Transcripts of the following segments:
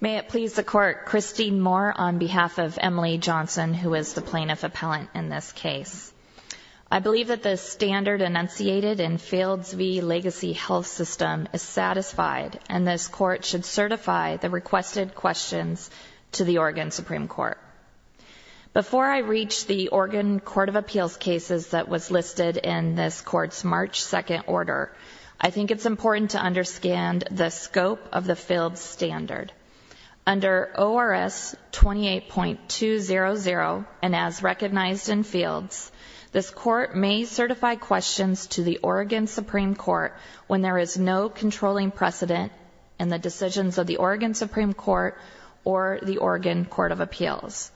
May it please the court, Christine Moore on behalf of Emily Johnson who is the plaintiff appellant in this case. I believe that the standard enunciated in Fields v. Legacy Health System is satisfied and this court should certify the requested questions to the Oregon Supreme Court. Before I reach the Oregon Court of Appeals cases that was listed in this court's March 2nd order, I think it's important to understand the scope of the Fields standard. Under ORS 28.200 and as recognized in Fields, this court may certify questions to the Oregon Supreme Court when there is no controlling precedent in the decisions of the Oregon Supreme Court or the Oregon Court of Appeals.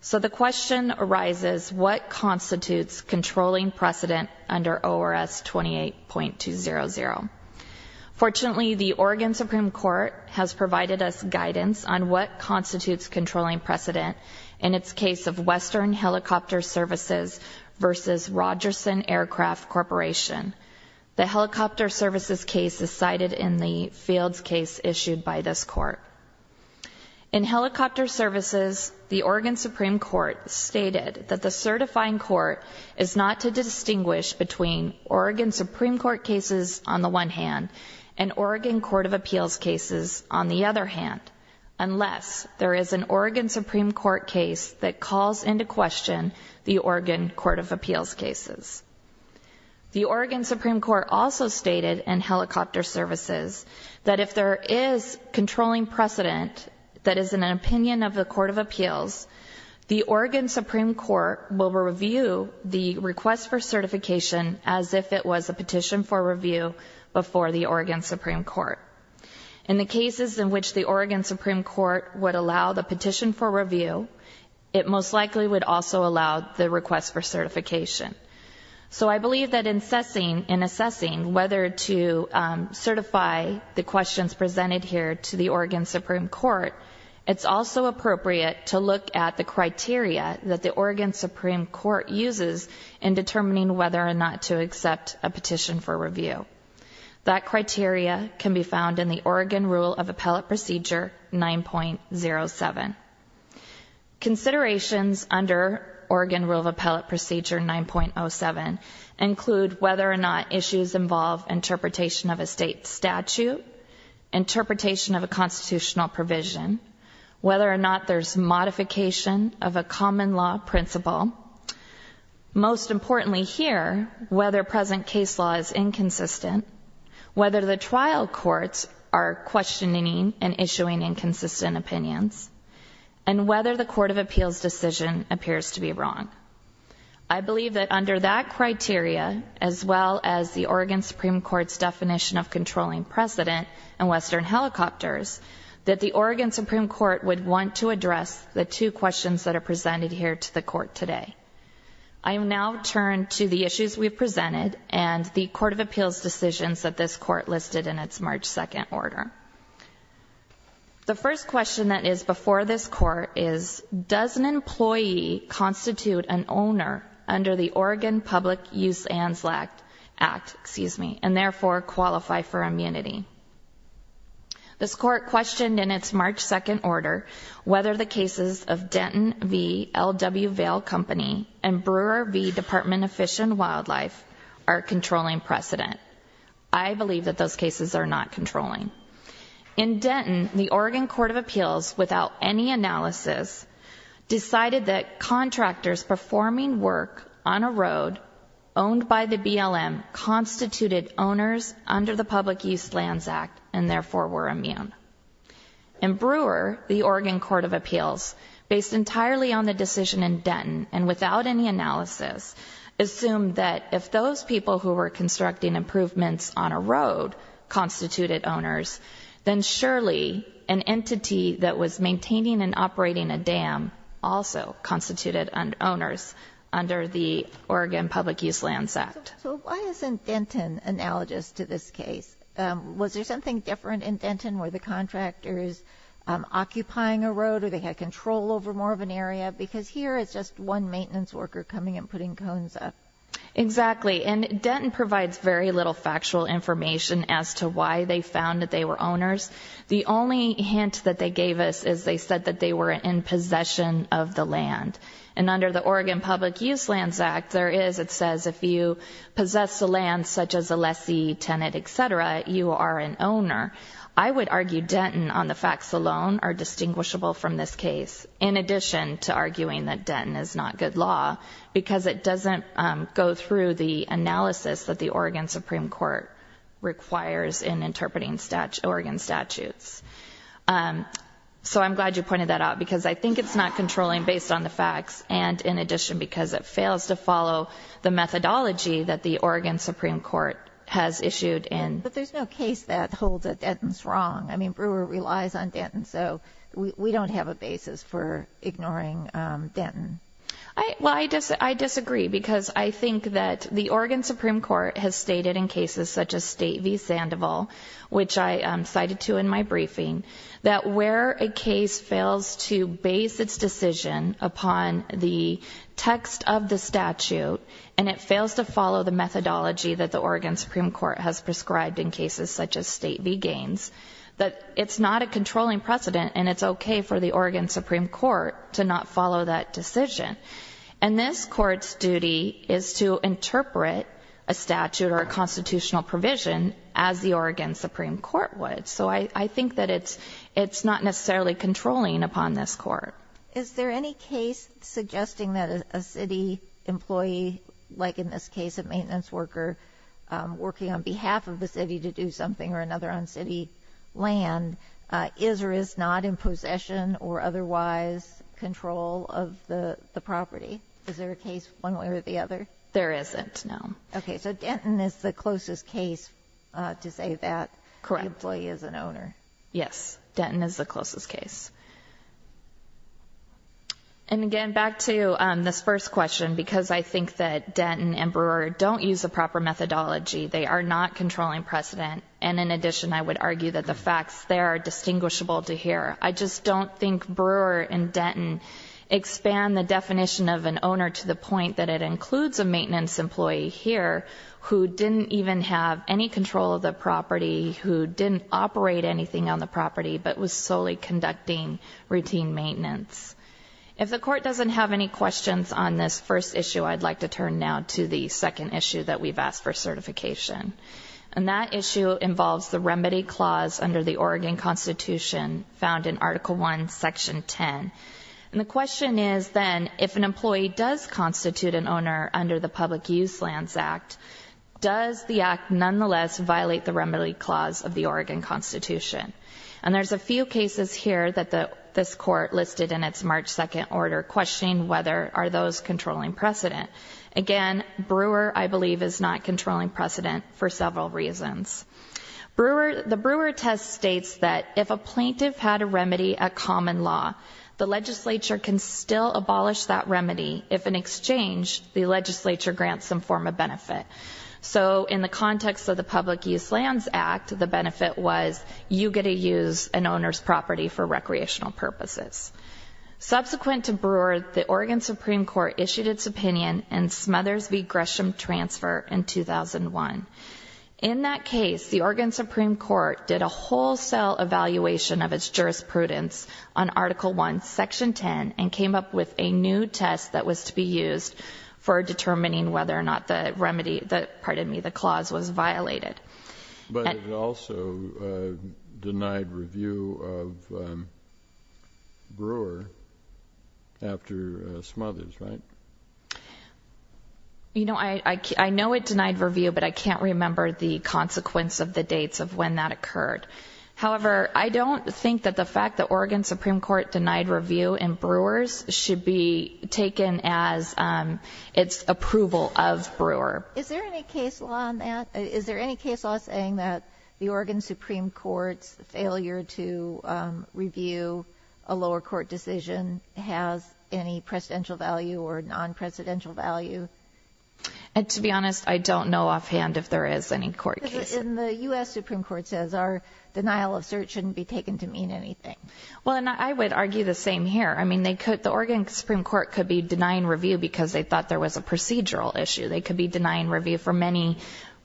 So the question arises, what constitutes controlling precedent under ORS 28.200? Fortunately, the Oregon Supreme Court has provided us guidance on what constitutes controlling precedent in its case of Western Helicopter Services v. Rogerson Aircraft Corporation. The helicopter services case is cited in the Fields case issued by this court. In helicopter services, the Oregon Supreme Court stated that the certifying court is not to distinguish between Oregon Supreme Court cases on the one hand and Oregon Court of Appeals cases on the other hand, unless there is an Oregon Supreme Court case that calls into question the Oregon Court of Appeals cases. The Oregon Supreme Court also stated in helicopter services that if there is controlling precedent that is in an opinion of the Court of Appeals, the Oregon Supreme Court will review the request for certification as if it was a petition for review before the Oregon Supreme Court. In the cases in which the Oregon Supreme Court would allow the petition for review, it most likely would also allow the request for certification. So I believe that in assessing whether to certify the questions presented here to the Oregon Supreme Court, it's also appropriate to look at the criteria that the Oregon Supreme Court uses in determining whether or not to accept a petition for review. That criteria can be found in the Oregon Rule of Appellate Procedure 9.07. Considerations under Oregon Rule of Appellate Procedure 9.07 include whether or not issues involve interpretation of a state statute, interpretation of a constitutional provision, whether or not there's modification of a common law principle, most importantly here, whether present case law is inconsistent, whether the trial courts are questioning and issuing inconsistent opinions, and whether the Court of Appeals decision appears to be wrong. I believe that under that criteria as well as the Oregon Supreme Court's definition of controlling precedent and Western helicopters, that the Oregon Supreme Court would want to address the two questions that are presented here to the Court today. I will now turn to the issues we've presented and the Court of Appeals decisions that this Court listed in its March 2nd order. The first question that is before this Court is does an employee constitute an owner under the Oregon Public Use and Lack Act, excuse me, and therefore qualify for immunity? This Court questioned in its March 2nd order whether the cases of Denton v. L.W. Vale Company and Brewer v. Department of Fish and Wildlife are controlling precedent. I believe that those cases are not controlling. In Denton, the Oregon Court of Appeals without any analysis decided that contractors performing work on a road owned by the BLM constituted owners under the Public Use Lands Act and therefore were immune. And Brewer, the Oregon Court of Appeals, based entirely on the decision in Denton and without any analysis, assumed that if those people who were constructing improvements on a road constituted owners, then surely an entity that was maintaining and operating a dam also constituted owners under the Oregon Public Use Lands Act. So why isn't Denton analogous to this case? Was there something different in Denton? Were the contractors occupying a road or they had control over more of an area? Because here it's just one maintenance worker coming and putting cones up. Exactly, and that they were owners. The only hint that they gave us is they said that they were in possession of the land. And under the Oregon Public Use Lands Act, there is, it says, if you possess the land, such as a lessee, tenant, etc., you are an owner. I would argue Denton on the facts alone are distinguishable from this case, in addition to arguing that Denton is not good law, because it doesn't go through the analysis that the Oregon Supreme Court requires in interpreting Oregon statutes. So I'm glad you pointed that out, because I think it's not controlling based on the facts, and in addition, because it fails to follow the methodology that the Oregon Supreme Court has issued. But there's no case that holds that Denton's wrong. I mean, Brewer relies on Denton, so we don't have a basis for ignoring Denton. Well, I disagree, because I think that the Oregon Supreme Court has stated in cases such as State v. Sandoval, which I cited to in my briefing, that where a case fails to base its decision upon the text of the statute, and it fails to follow the methodology that the Oregon Supreme Court has prescribed in cases such as State v. Gaines, that it's not a Oregon Supreme Court to not follow that decision. And this Court's duty is to interpret a statute or a constitutional provision as the Oregon Supreme Court would. So I think that it's not necessarily controlling upon this Court. Is there any case suggesting that a city employee, like in this case a maintenance worker, working on behalf of the city to do something or another on otherwise control of the property? Is there a case one way or the other? There isn't, no. Okay, so Denton is the closest case to say that. Correct. The employee is an owner. Yes, Denton is the closest case. And again, back to this first question, because I think that Denton and Brewer don't use the proper methodology, they are not controlling precedent, and in addition, I would argue that the facts there are distinguishable to hear. I just don't think Brewer and Denton expand the definition of an owner to the point that it includes a maintenance employee here who didn't even have any control of the property, who didn't operate anything on the property, but was solely conducting routine maintenance. If the Court doesn't have any questions on this first issue, I'd like to turn now to the second issue that we've asked for certification. And that issue involves the remedy clause under the Oregon Constitution found in Article 1, Section 10. And the question is then, if an employee does constitute an owner under the Public Use Lands Act, does the act nonetheless violate the remedy clause of the Oregon Constitution? And there's a few cases here that this Court listed in its March 2nd order questioning whether are those controlling precedent. Again, Brewer, I states that if a plaintiff had a remedy at common law, the legislature can still abolish that remedy if, in exchange, the legislature grants some form of benefit. So in the context of the Public Use Lands Act, the benefit was you get to use an owner's property for recreational purposes. Subsequent to Brewer, the Oregon Supreme Court issued its opinion in Smothers v. Gresham transfer in 2001. In that case, the Oregon Supreme Court did a wholesale evaluation of its jurisprudence on Article 1, Section 10, and came up with a new test that was to be used for determining whether or not the remedy that, pardon me, the clause was violated. But it also denied review of Brewer after Smothers, right? You know, I of when that occurred. However, I don't think that the fact that Oregon Supreme Court denied review in Brewer's should be taken as its approval of Brewer. Is there any case law on that? Is there any case law saying that the Oregon Supreme Court's failure to review a lower court decision has any presidential value or non-presidential value? And to be honest, I don't know offhand if there is any court case. The U.S. Supreme Court says our denial of cert shouldn't be taken to mean anything. Well, and I would argue the same here. I mean, they could, the Oregon Supreme Court could be denying review because they thought there was a procedural issue. They could be denying review for many,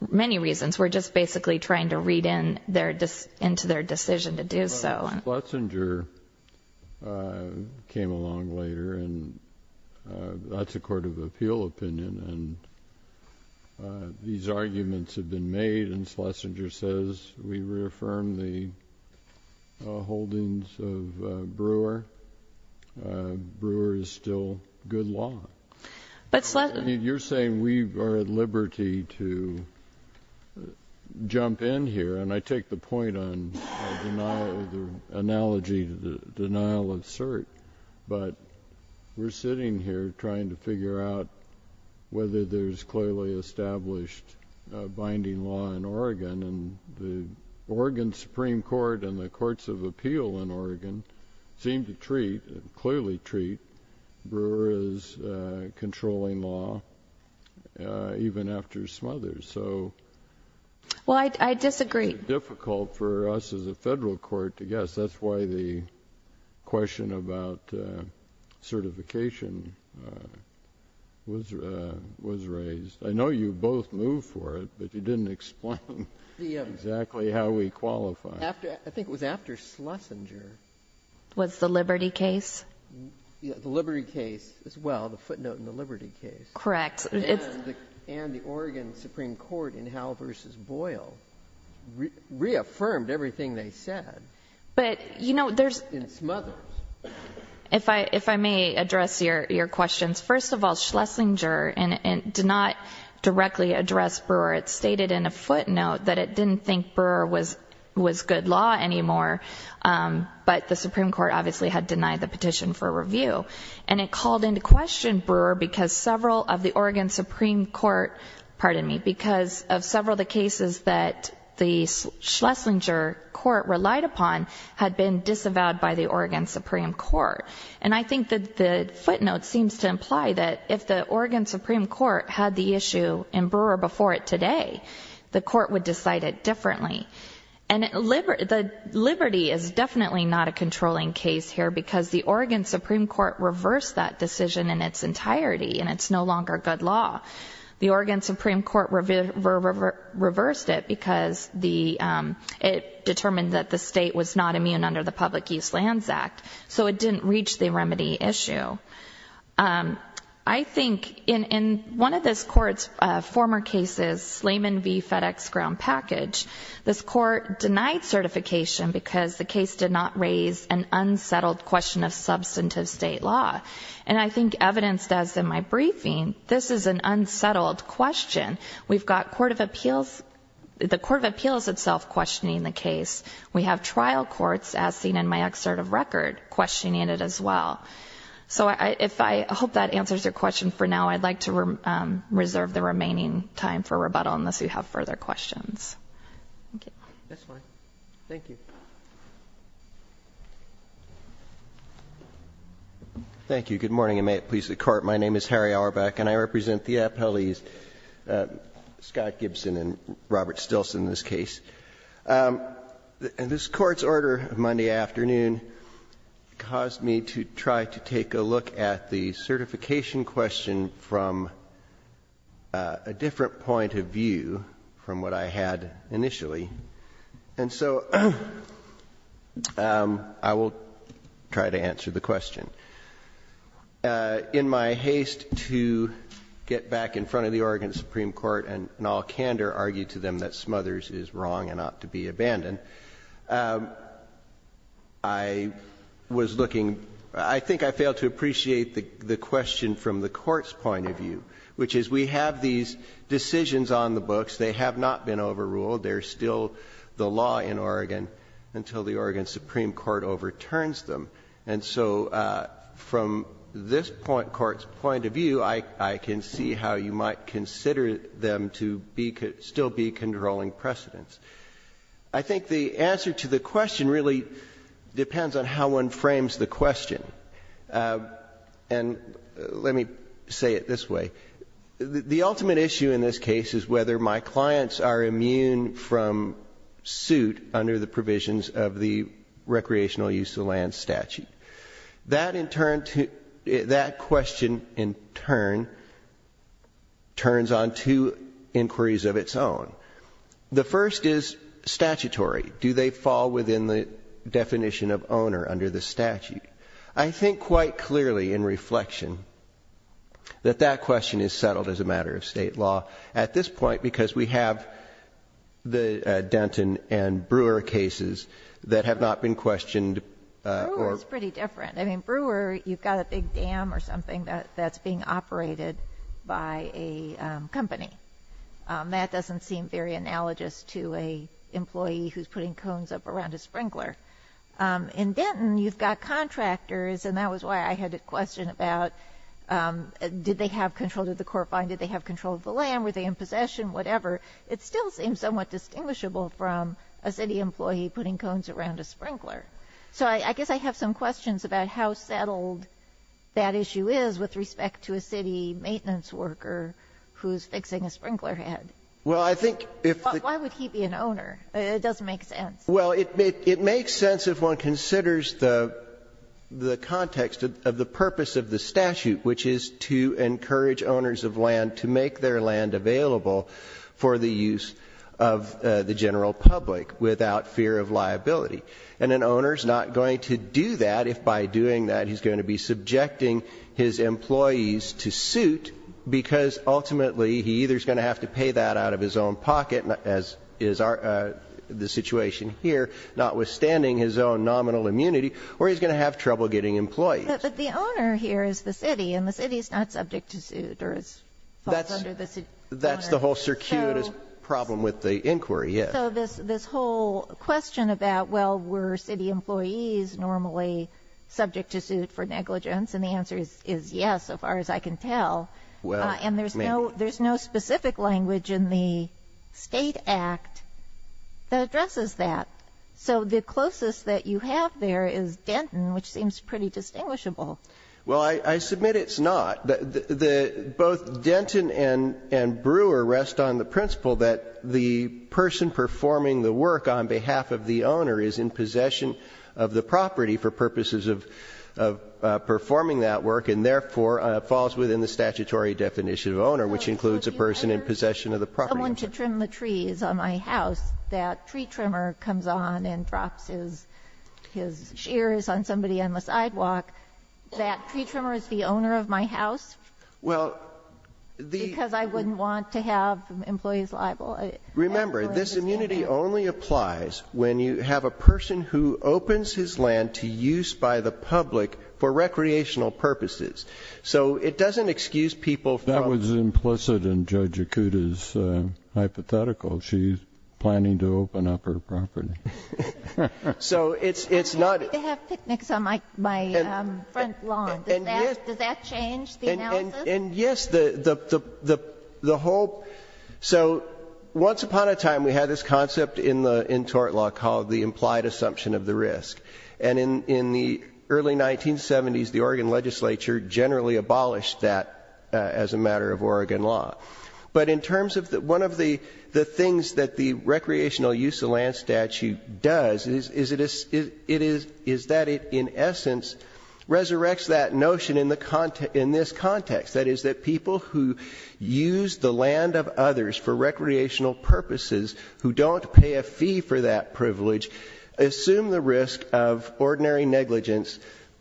many reasons. We're just basically trying to read in their, into their decision to do so. Schletzinger came along later, and that's a court of appeal opinion. And these arguments have been made, and Schletzinger says we reaffirm the holdings of Brewer. Brewer is still good law. But Schletzinger... You're saying we are at liberty to jump in here, and I take the analogy to the denial of cert. But we're sitting here trying to figure out whether there's clearly established binding law in Oregon. And the Oregon Supreme Court and the courts of appeal in Oregon seem to treat, clearly treat, Brewer as controlling law, even after Smothers. So... Well, I disagree. It's difficult for us as a Federal court to guess. That's why the question about certification was, was raised. I know you both moved for it, but you didn't explain exactly how we qualify. After, I think it was after Schletzinger... Was the Liberty case? Yeah, the Liberty case as well, the footnote in the Liberty case. Correct. And the Oregon Supreme Court in Howell v. Boyle reaffirmed everything they said. But, you know, there's... In Smothers. If I may address your questions, first of all, Schletzinger did not directly address Brewer. It stated in a footnote that it didn't think Brewer was good law anymore, but the Supreme Court obviously had denied the petition for review. And it called into question Brewer because several of the Oregon that the Schletzinger court relied upon had been disavowed by the Oregon Supreme Court. And I think that the footnote seems to imply that if the Oregon Supreme Court had the issue in Brewer before it today, the court would decide it differently. And the Liberty is definitely not a controlling case here because the Oregon Supreme Court reversed that decision in its entirety, and it's no longer good law. The Oregon Supreme Court reversed it because it determined that the state was not immune under the Public Use Lands Act, so it didn't reach the remedy issue. I think in one of this court's former cases, Slayman v. FedEx Ground Package, this court denied certification because the case did not raise an unsettled question of substantive state law. And I think evidenced as in my briefing, this is an unsettled question. We've got the Court of Appeals itself questioning the case. We have trial courts, as seen in my excerpt of record, questioning it as well. So I hope that answers your question for now. I'd like to reserve the remaining time for rebuttal unless you have further questions. Thank you. Good morning, and may it please the Court. My name is Harry Apellese, Scott Gibson, and Robert Stilson in this case. This Court's order Monday afternoon caused me to try to take a look at the certification question from a different point of view from what I had initially. And so I will try to answer the question. In my haste to get back in front of the Oregon Supreme Court and in all candor argue to them that Smothers is wrong and ought to be abandoned, I was looking, I think I failed to appreciate the question from the Court's point of view, which is we have these decisions on the books. They have not been overruled. They're still the law in Oregon until the Oregon Supreme Court overturns them. And so from this point, Court's point of view, I can see how you might consider them to still be controlling precedents. I think the answer to the question really depends on how one frames the question. And let me say it this way. The ultimate issue in this case is whether my clients are immune from suit under the provisions of the Recreational Use of Land Statute. That question in turn turns on two inquiries of its own. The first is statutory. Do they fall within the definition of owner under the statute? I think quite clearly in reflection that that question is settled as a matter of state law at this point because we have the Denton and Brewer cases that have not been questioned or ---- Brewer is pretty different. I mean, Brewer, you've got a big dam or something that's being operated by a company. That doesn't seem very analogous to an employee who's putting cones up around a sprinkler. In Denton, you've got contractors and that was why I had a question about did they have control of the core fine, did they have control of the land, were they in possession, whatever. It still seems somewhat distinguishable from a city employee putting cones around a sprinkler. So I guess I have some questions about how settled that issue is with respect to a city maintenance worker who's fixing a sprinkler head. Well, I think if the ---- Why would he be an owner? It doesn't make sense. Well, it makes sense if one considers the context of the purpose of the statute, which is to encourage owners of land to make their land available for the use of the general public without fear of liability. And an owner's not going to do that if by doing that he's going to be subjecting his employees to suit because ultimately he either is going to have to pay that out of his own pocket, as is the situation here, notwithstanding his own nominal immunity, or he's going to have trouble getting employees. But the owner here is the city and the city is not subject to suit or is under the city. That's the whole circuitous problem with the inquiry, yes. So this whole question about, well, were city employees normally subject to suit for negligence? And the answer is yes, so far as I can tell. And there's no specific language in the state act that addresses that. So the closest that you have there is Denton, which seems pretty distinguishable. Well, I submit it's not. Both Denton and Brewer rest on the principle that the person performing the work on behalf of the owner is in possession of the property for purposes of performing that work and therefore falls within the statutory definition of owner, which includes a person in possession of the property. Someone to trim the trees on my house, that tree trimmer comes on and drops his shears on somebody on the sidewalk, that tree trimmer is the owner of my house because I wouldn't want to have employees liable. Remember, this immunity only applies when you have a person who opens his land to use by the public for recreational purposes. So it doesn't excuse people. That was implicit in Judge Akuta's hypothetical. She's planning to open up her property. So it's not... I have picnics on my front lawn. Does that change the analysis? And yes, the whole... So once upon a time, we had this concept in tort law called the implied assumption of the risk. And in the early 1970s, the Oregon legislature generally abolished that as a matter of Oregon law. But in terms of one of the things that the recreational use of land statute does is that it, in essence, resurrects that notion in this context. That is that people who use the land of others for recreational purposes who don't pay a fee for that privilege assume the risk of ordinary negligence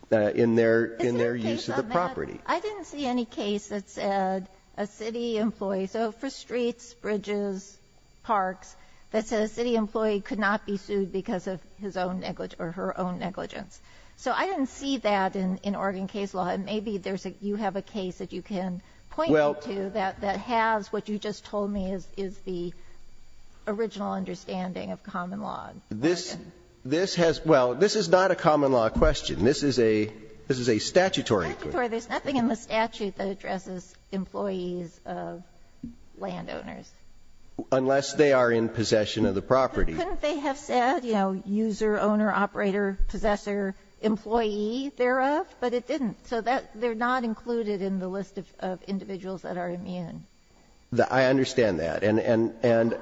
in their use of the property. I didn't see any case that said a city employee... So for streets, bridges, parks, that said a city employee could not be sued because of his own negligence or her own negligence. So I didn't see that in Oregon case law. And maybe there's a... You have a case that you can point me to that has what you just told me is the original understanding of common law. This has... Well, this is not a common law question. This is a statutory question. There's nothing in the statute that addresses employees of landowners. Unless they are in possession of the property. But couldn't they have said, you know, user, owner, operator, possessor, employee thereof? But it didn't. So that, they're not included in the list of individuals that are immune. I understand that. And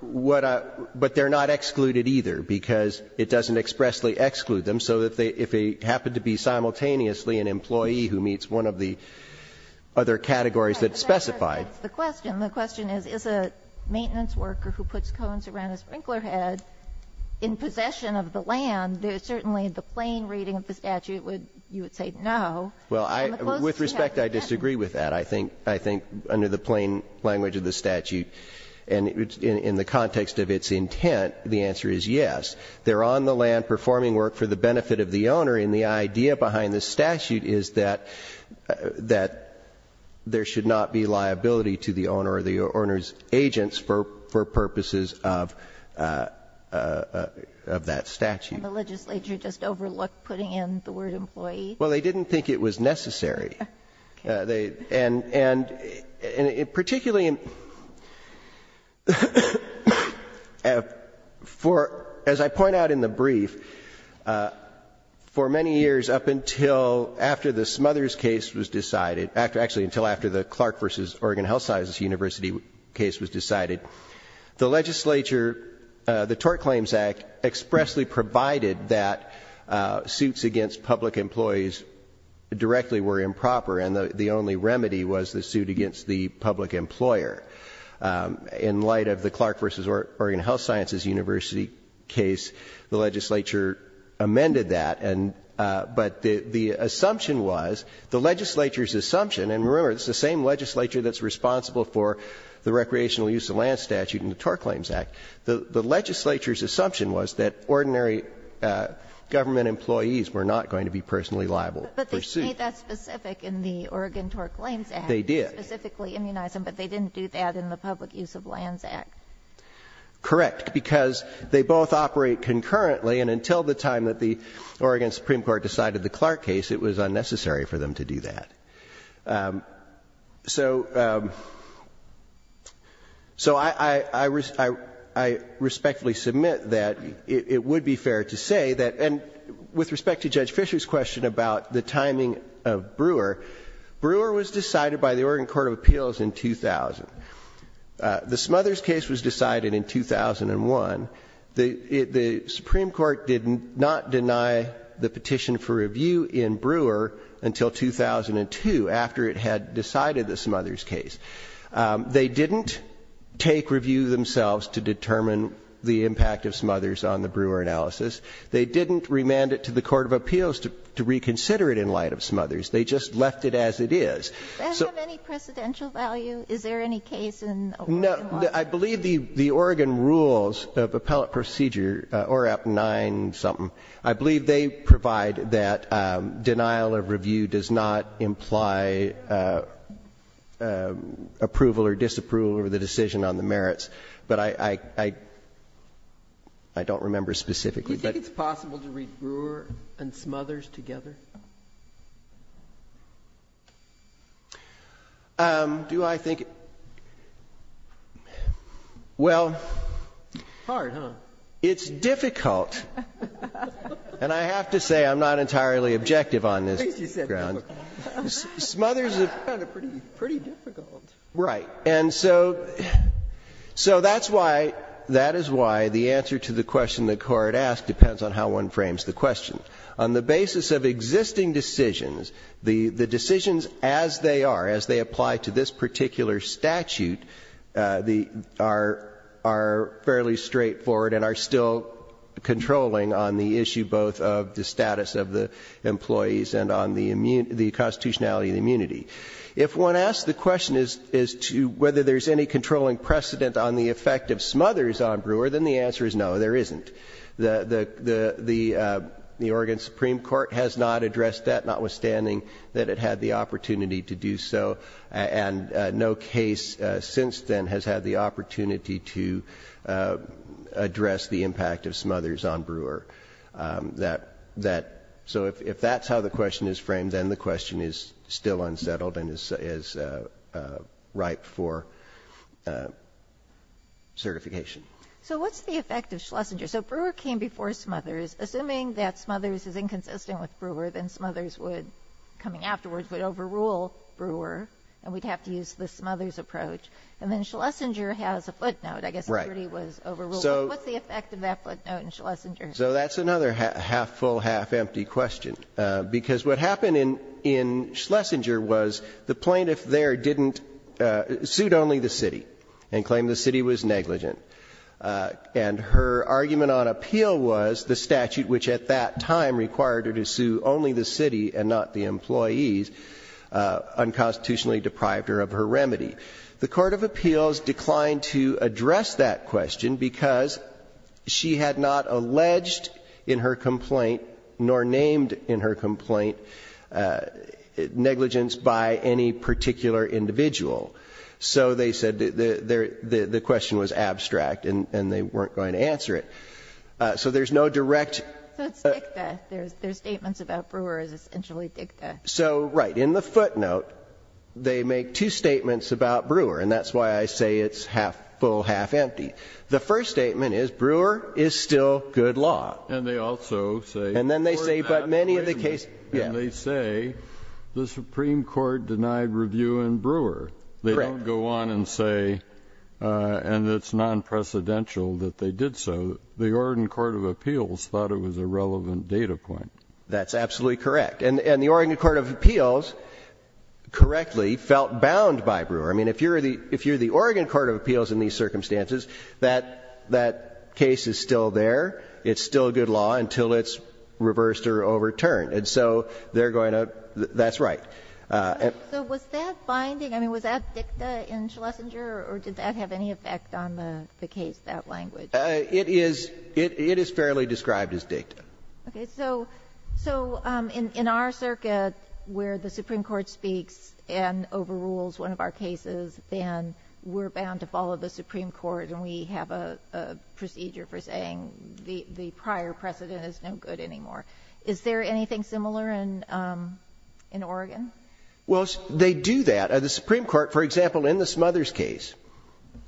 what I... But they're not excluded either, because it doesn't expressly exclude them. So if they happen to be simultaneously an employee who meets one of the other categories that's specified... But that's not the question. The question is, is a maintenance worker who puts cones around a sprinkler head in possession of the land, there's certainly the plain reading of the statute would, you would say no. Well, I, with respect, I disagree with that. I think, I think, under the plain language of the statute, and in the context of its intent, the answer is yes. They're on the land performing work for the benefit of the owner, and the idea behind this statute is that, that there should not be liability to the owner or the owner's agents for, for purposes of, of that statute. And the legislature just overlooked putting in the word employee? Well, they didn't think it was necessary. Okay. They, and, and, and in particularly, for, as I point out in the brief, for many years up until after the Smothers case was decided, actually until after the Clark versus Oregon Health Sciences University case was decided, the legislature, the Tort Claims Act expressly provided that suits against public employees directly were improper, and the, the only remedy was the suit against the public employer. In light of the Clark versus Oregon Health Sciences University case, the legislature amended that, and, but the, the assumption was, the legislature's assumption, and remember, it's the same legislature that's responsible for the recreational use of land statute and the Tort Claims Act. The, the legislature's assumption was that ordinary government employees were not going to be personally liable for suit. But they made that specific in the Oregon Tort Claims Act. They did. They specifically immunized them, but they didn't do that in the Public Use of Lands Act. Correct. Because they both operate concurrently, and until the time that the Oregon Supreme Court decided the Clark case, it was unnecessary for them to do that. So, so I, I, I respectfully submit that it, it would be fair to say that, and with respect to Judge Fisher's question about the timing of Brewer, Brewer was decided by the Oregon Court of Appeals in 2000. The Smothers case was decided in 2001. The, the Supreme Court did not deny the petition for review in Brewer until 2002, after it had decided the Smothers case. They didn't take review themselves to determine the impact of Smothers on the Brewer analysis. They didn't remand it to the Court of Appeals to, to reconsider it in light of Smothers. They just left it as it is. Does that have any precedential value? Is there any case in Oregon law that? No. I believe the, the Oregon rules of appellate procedure, ORAP 9 something, I believe they provide that denial of review does not imply approval or disapproval of the decision on the merits. But I, I, I, I don't remember specifically. Do you think it's possible to read Brewer and Smothers together? Do I think? Well. Hard, huh? It's difficult. And I have to say I'm not entirely objective on this. Smothers is kind of pretty, pretty difficult. Right. And so, so that's why, that is why the answer to the question the Court asked depends on how one frames the question. On the basis of existing decisions, the, the decisions as they are, as they apply to this particular statute, the, are, are fairly straightforward and are still controlling on the issue both of the status of the employees and on the immune, the constitutionality of the immunity. If one asks the question is, is to whether there's any controlling precedent on the effect of Smothers on Brewer, then the answer is no, there isn't. The, the, the, the Oregon Supreme Court has not addressed that, notwithstanding that it had the opportunity to do so, and no case since then has had the opportunity to address the impact of Smothers on Brewer. That, that, so if, if that's how the question is framed, then the question is still unsettled and is, is ripe for certification. So what's the effect of Schlesinger? So Brewer came before Smothers. Assuming that Smothers is inconsistent with Brewer, then Smothers would, coming afterwards, would overrule Brewer, and we'd have to use the Smothers approach. And then Schlesinger has a footnote, I guess, where he was overruled. So what's the effect of that footnote in Schlesinger? So that's another half-full, half-empty question, because what happened in, in Schlesinger was the plaintiff there didn't suit only the city and claimed the city was negligent. And her argument on appeal was the statute, which at that time required her to sue only the city and not the employees, unconstitutionally deprived her of her remedy. The Court of Appeals declined to address that question because she had not alleged in her complaint, nor named in her complaint, negligence by any particular individual. So they said the, the, the, the question was abstract and, and they weren't going to answer it. So there's no direct- So it's dicta. There's, there's statements about Brewer as essentially dicta. So right. In the footnote, they make two statements about Brewer, and that's why I say it's half-full, half-empty. The first statement is Brewer is still good law. And they also say- And then they say, but many of the case- They don't go on and say, and it's non-precedential that they did so. The Oregon Court of Appeals thought it was a relevant data point. That's absolutely correct. And, and the Oregon Court of Appeals correctly felt bound by Brewer. I mean, if you're the, if you're the Oregon Court of Appeals in these circumstances, that, that case is still there. It's still good law until it's reversed or overturned. And so they're going to, that's right. So was that binding? I mean, was that dicta in Schlesinger, or did that have any effect on the case, that language? It is, it is fairly described as dicta. Okay. So, so in our circuit where the Supreme Court speaks and overrules one of our cases, then we're bound to follow the Supreme Court, and we have a procedure for saying the, the prior precedent is no good anymore. Is there anything similar in, in Oregon? Well, they do that. The Supreme Court, for example, in the Smothers case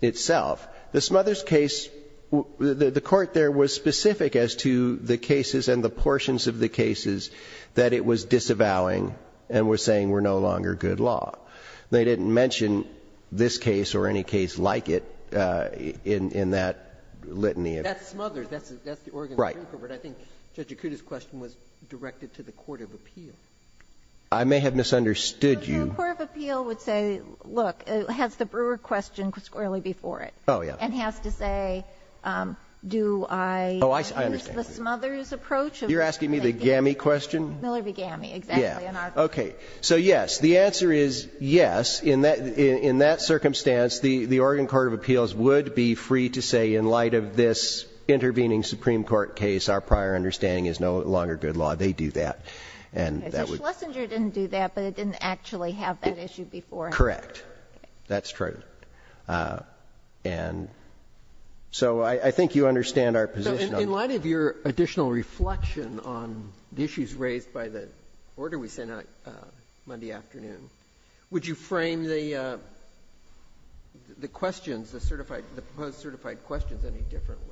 itself. The Smothers case, the, the court there was specific as to the cases and the portions of the cases that it was disavowing and was saying were no longer good law. They didn't mention this case or any case like it in, in that litany of. That's Smothers, that's, that's the Oregon Supreme Court. Right. But I think Judge Akuta's question was directed to the court of appeal. I may have misunderstood you. The court of appeal would say, look, has the Brewer question squarely before it. Oh, yeah. And has to say, do I. Oh, I, I understand. Use the Smothers approach. You're asking me the GAMI question? Miller v. GAMI, exactly. Yeah. Okay. So yes, the answer is yes. In that, in that circumstance, the, the Oregon Court of Appeals would be free to say in light of this intervening Supreme Court case, our prior understanding is no longer good law. They do that. And that would. Schlesinger didn't do that, but it didn't actually have that issue before. Correct. That's true. And so I, I think you understand our position on. In light of your additional reflection on the issues raised by the order we sent out Monday afternoon, would you frame the, the questions, the certified, the proposed certified questions any differently?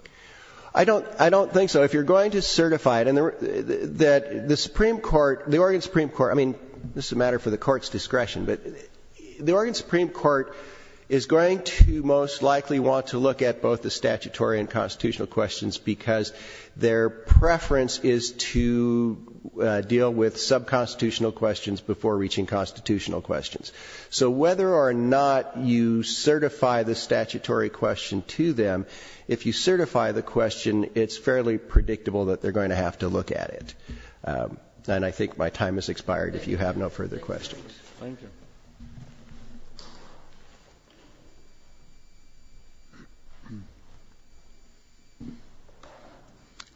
I don't, I don't think so. If you're going to certify it, and the, the, that the Supreme Court, the Oregon Supreme Court, I mean, this is a matter for the Court's discretion, but the Oregon Supreme Court is going to most likely want to look at both the statutory and constitutional questions because their preference is to deal with sub-constitutional questions before reaching constitutional questions. So whether or not you certify the statutory question to them, if you certify the question, it's fairly predictable that they're going to have to look at it. And I think my time has expired if you have no further questions. Thank you.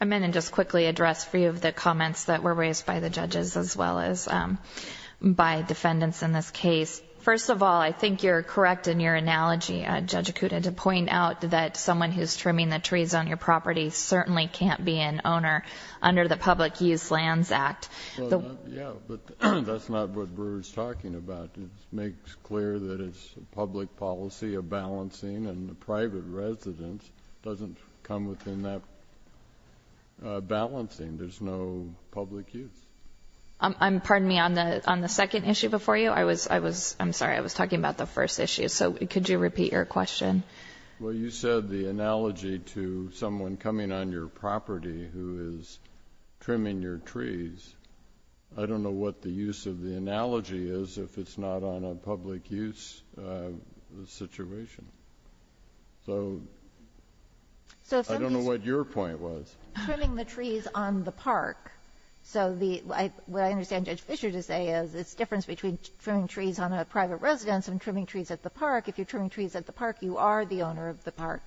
I'm going to just quickly address a few of the comments that were raised by the judges as well as by defendants in this case. First of all, I think you're correct in your analogy, Judge Acuda, to point out that someone who's trimming the trees on your property certainly can't be an owner under the Public Use Lands Act. Yeah, but that's not what Brewer's talking about. It makes clear that it's a public policy, a balancing, and the private residence doesn't come within that balancing. There's no public use. I'm, pardon me, on the, on the second issue before you, I was, I was, I'm sorry, I was talking about the first issue. So could you repeat your question? Well, you said the analogy to someone coming on your property who is trimming your trees. I don't know what the use of the analogy is if it's not on a public use situation. So I don't know what your point was. Trimming the trees on the park. So the, what I understand Judge Fischer to say is it's the difference between trimming trees on a private residence and trimming trees at the park. If you're trimming trees at the park, you are the owner of the park.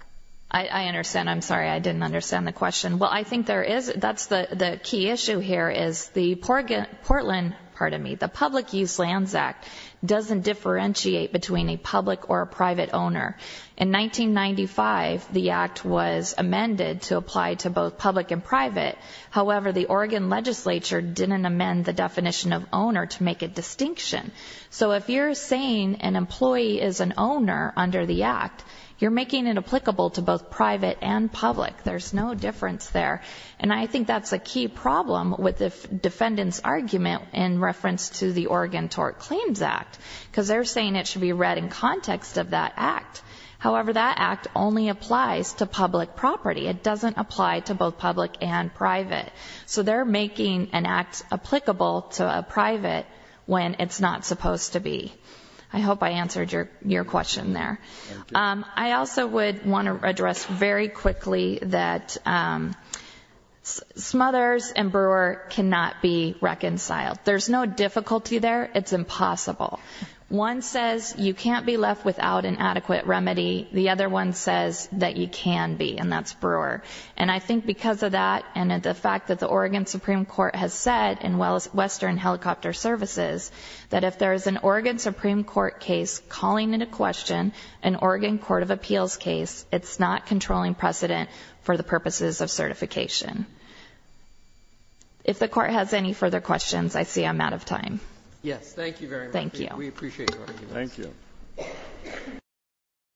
I understand. I'm sorry. I didn't understand the question. Well, I think there is, that's the key issue here is the Portland, pardon me, the Public Use Lands Act doesn't differentiate between a public or a private owner. In 1995, the act was amended to apply to both public and private. However, the Oregon legislature didn't amend the definition of owner to make a distinction. So if you're saying an employee is an owner under the act, you're making it applicable to both private and public. There's no difference there. And I think that's a key problem with the defendant's argument in reference to the Oregon Tort Claims Act, because they're saying it should be read in context of that act. However, that act only applies to public property. It doesn't apply to both public and private. So they're making an act applicable to a private when it's not supposed to be. I hope I answered your question there. I also would want to address very quickly that Smothers and Brewer cannot be reconciled. There's no difficulty there. It's impossible. One says you can't be left without an adequate remedy. The other one says that you can be, and that's Brewer. And I think because of that and the fact that the Oregon Supreme Court has said in Western Helicopter Services that if there is an Oregon Supreme Court case calling into question an Oregon Court of Appeals case, it's not controlling precedent for the purposes of certification. If the Court has any further questions, I see I'm out of time. Yes. Thank you very much. Thank you. We appreciate your arguments. Thank you.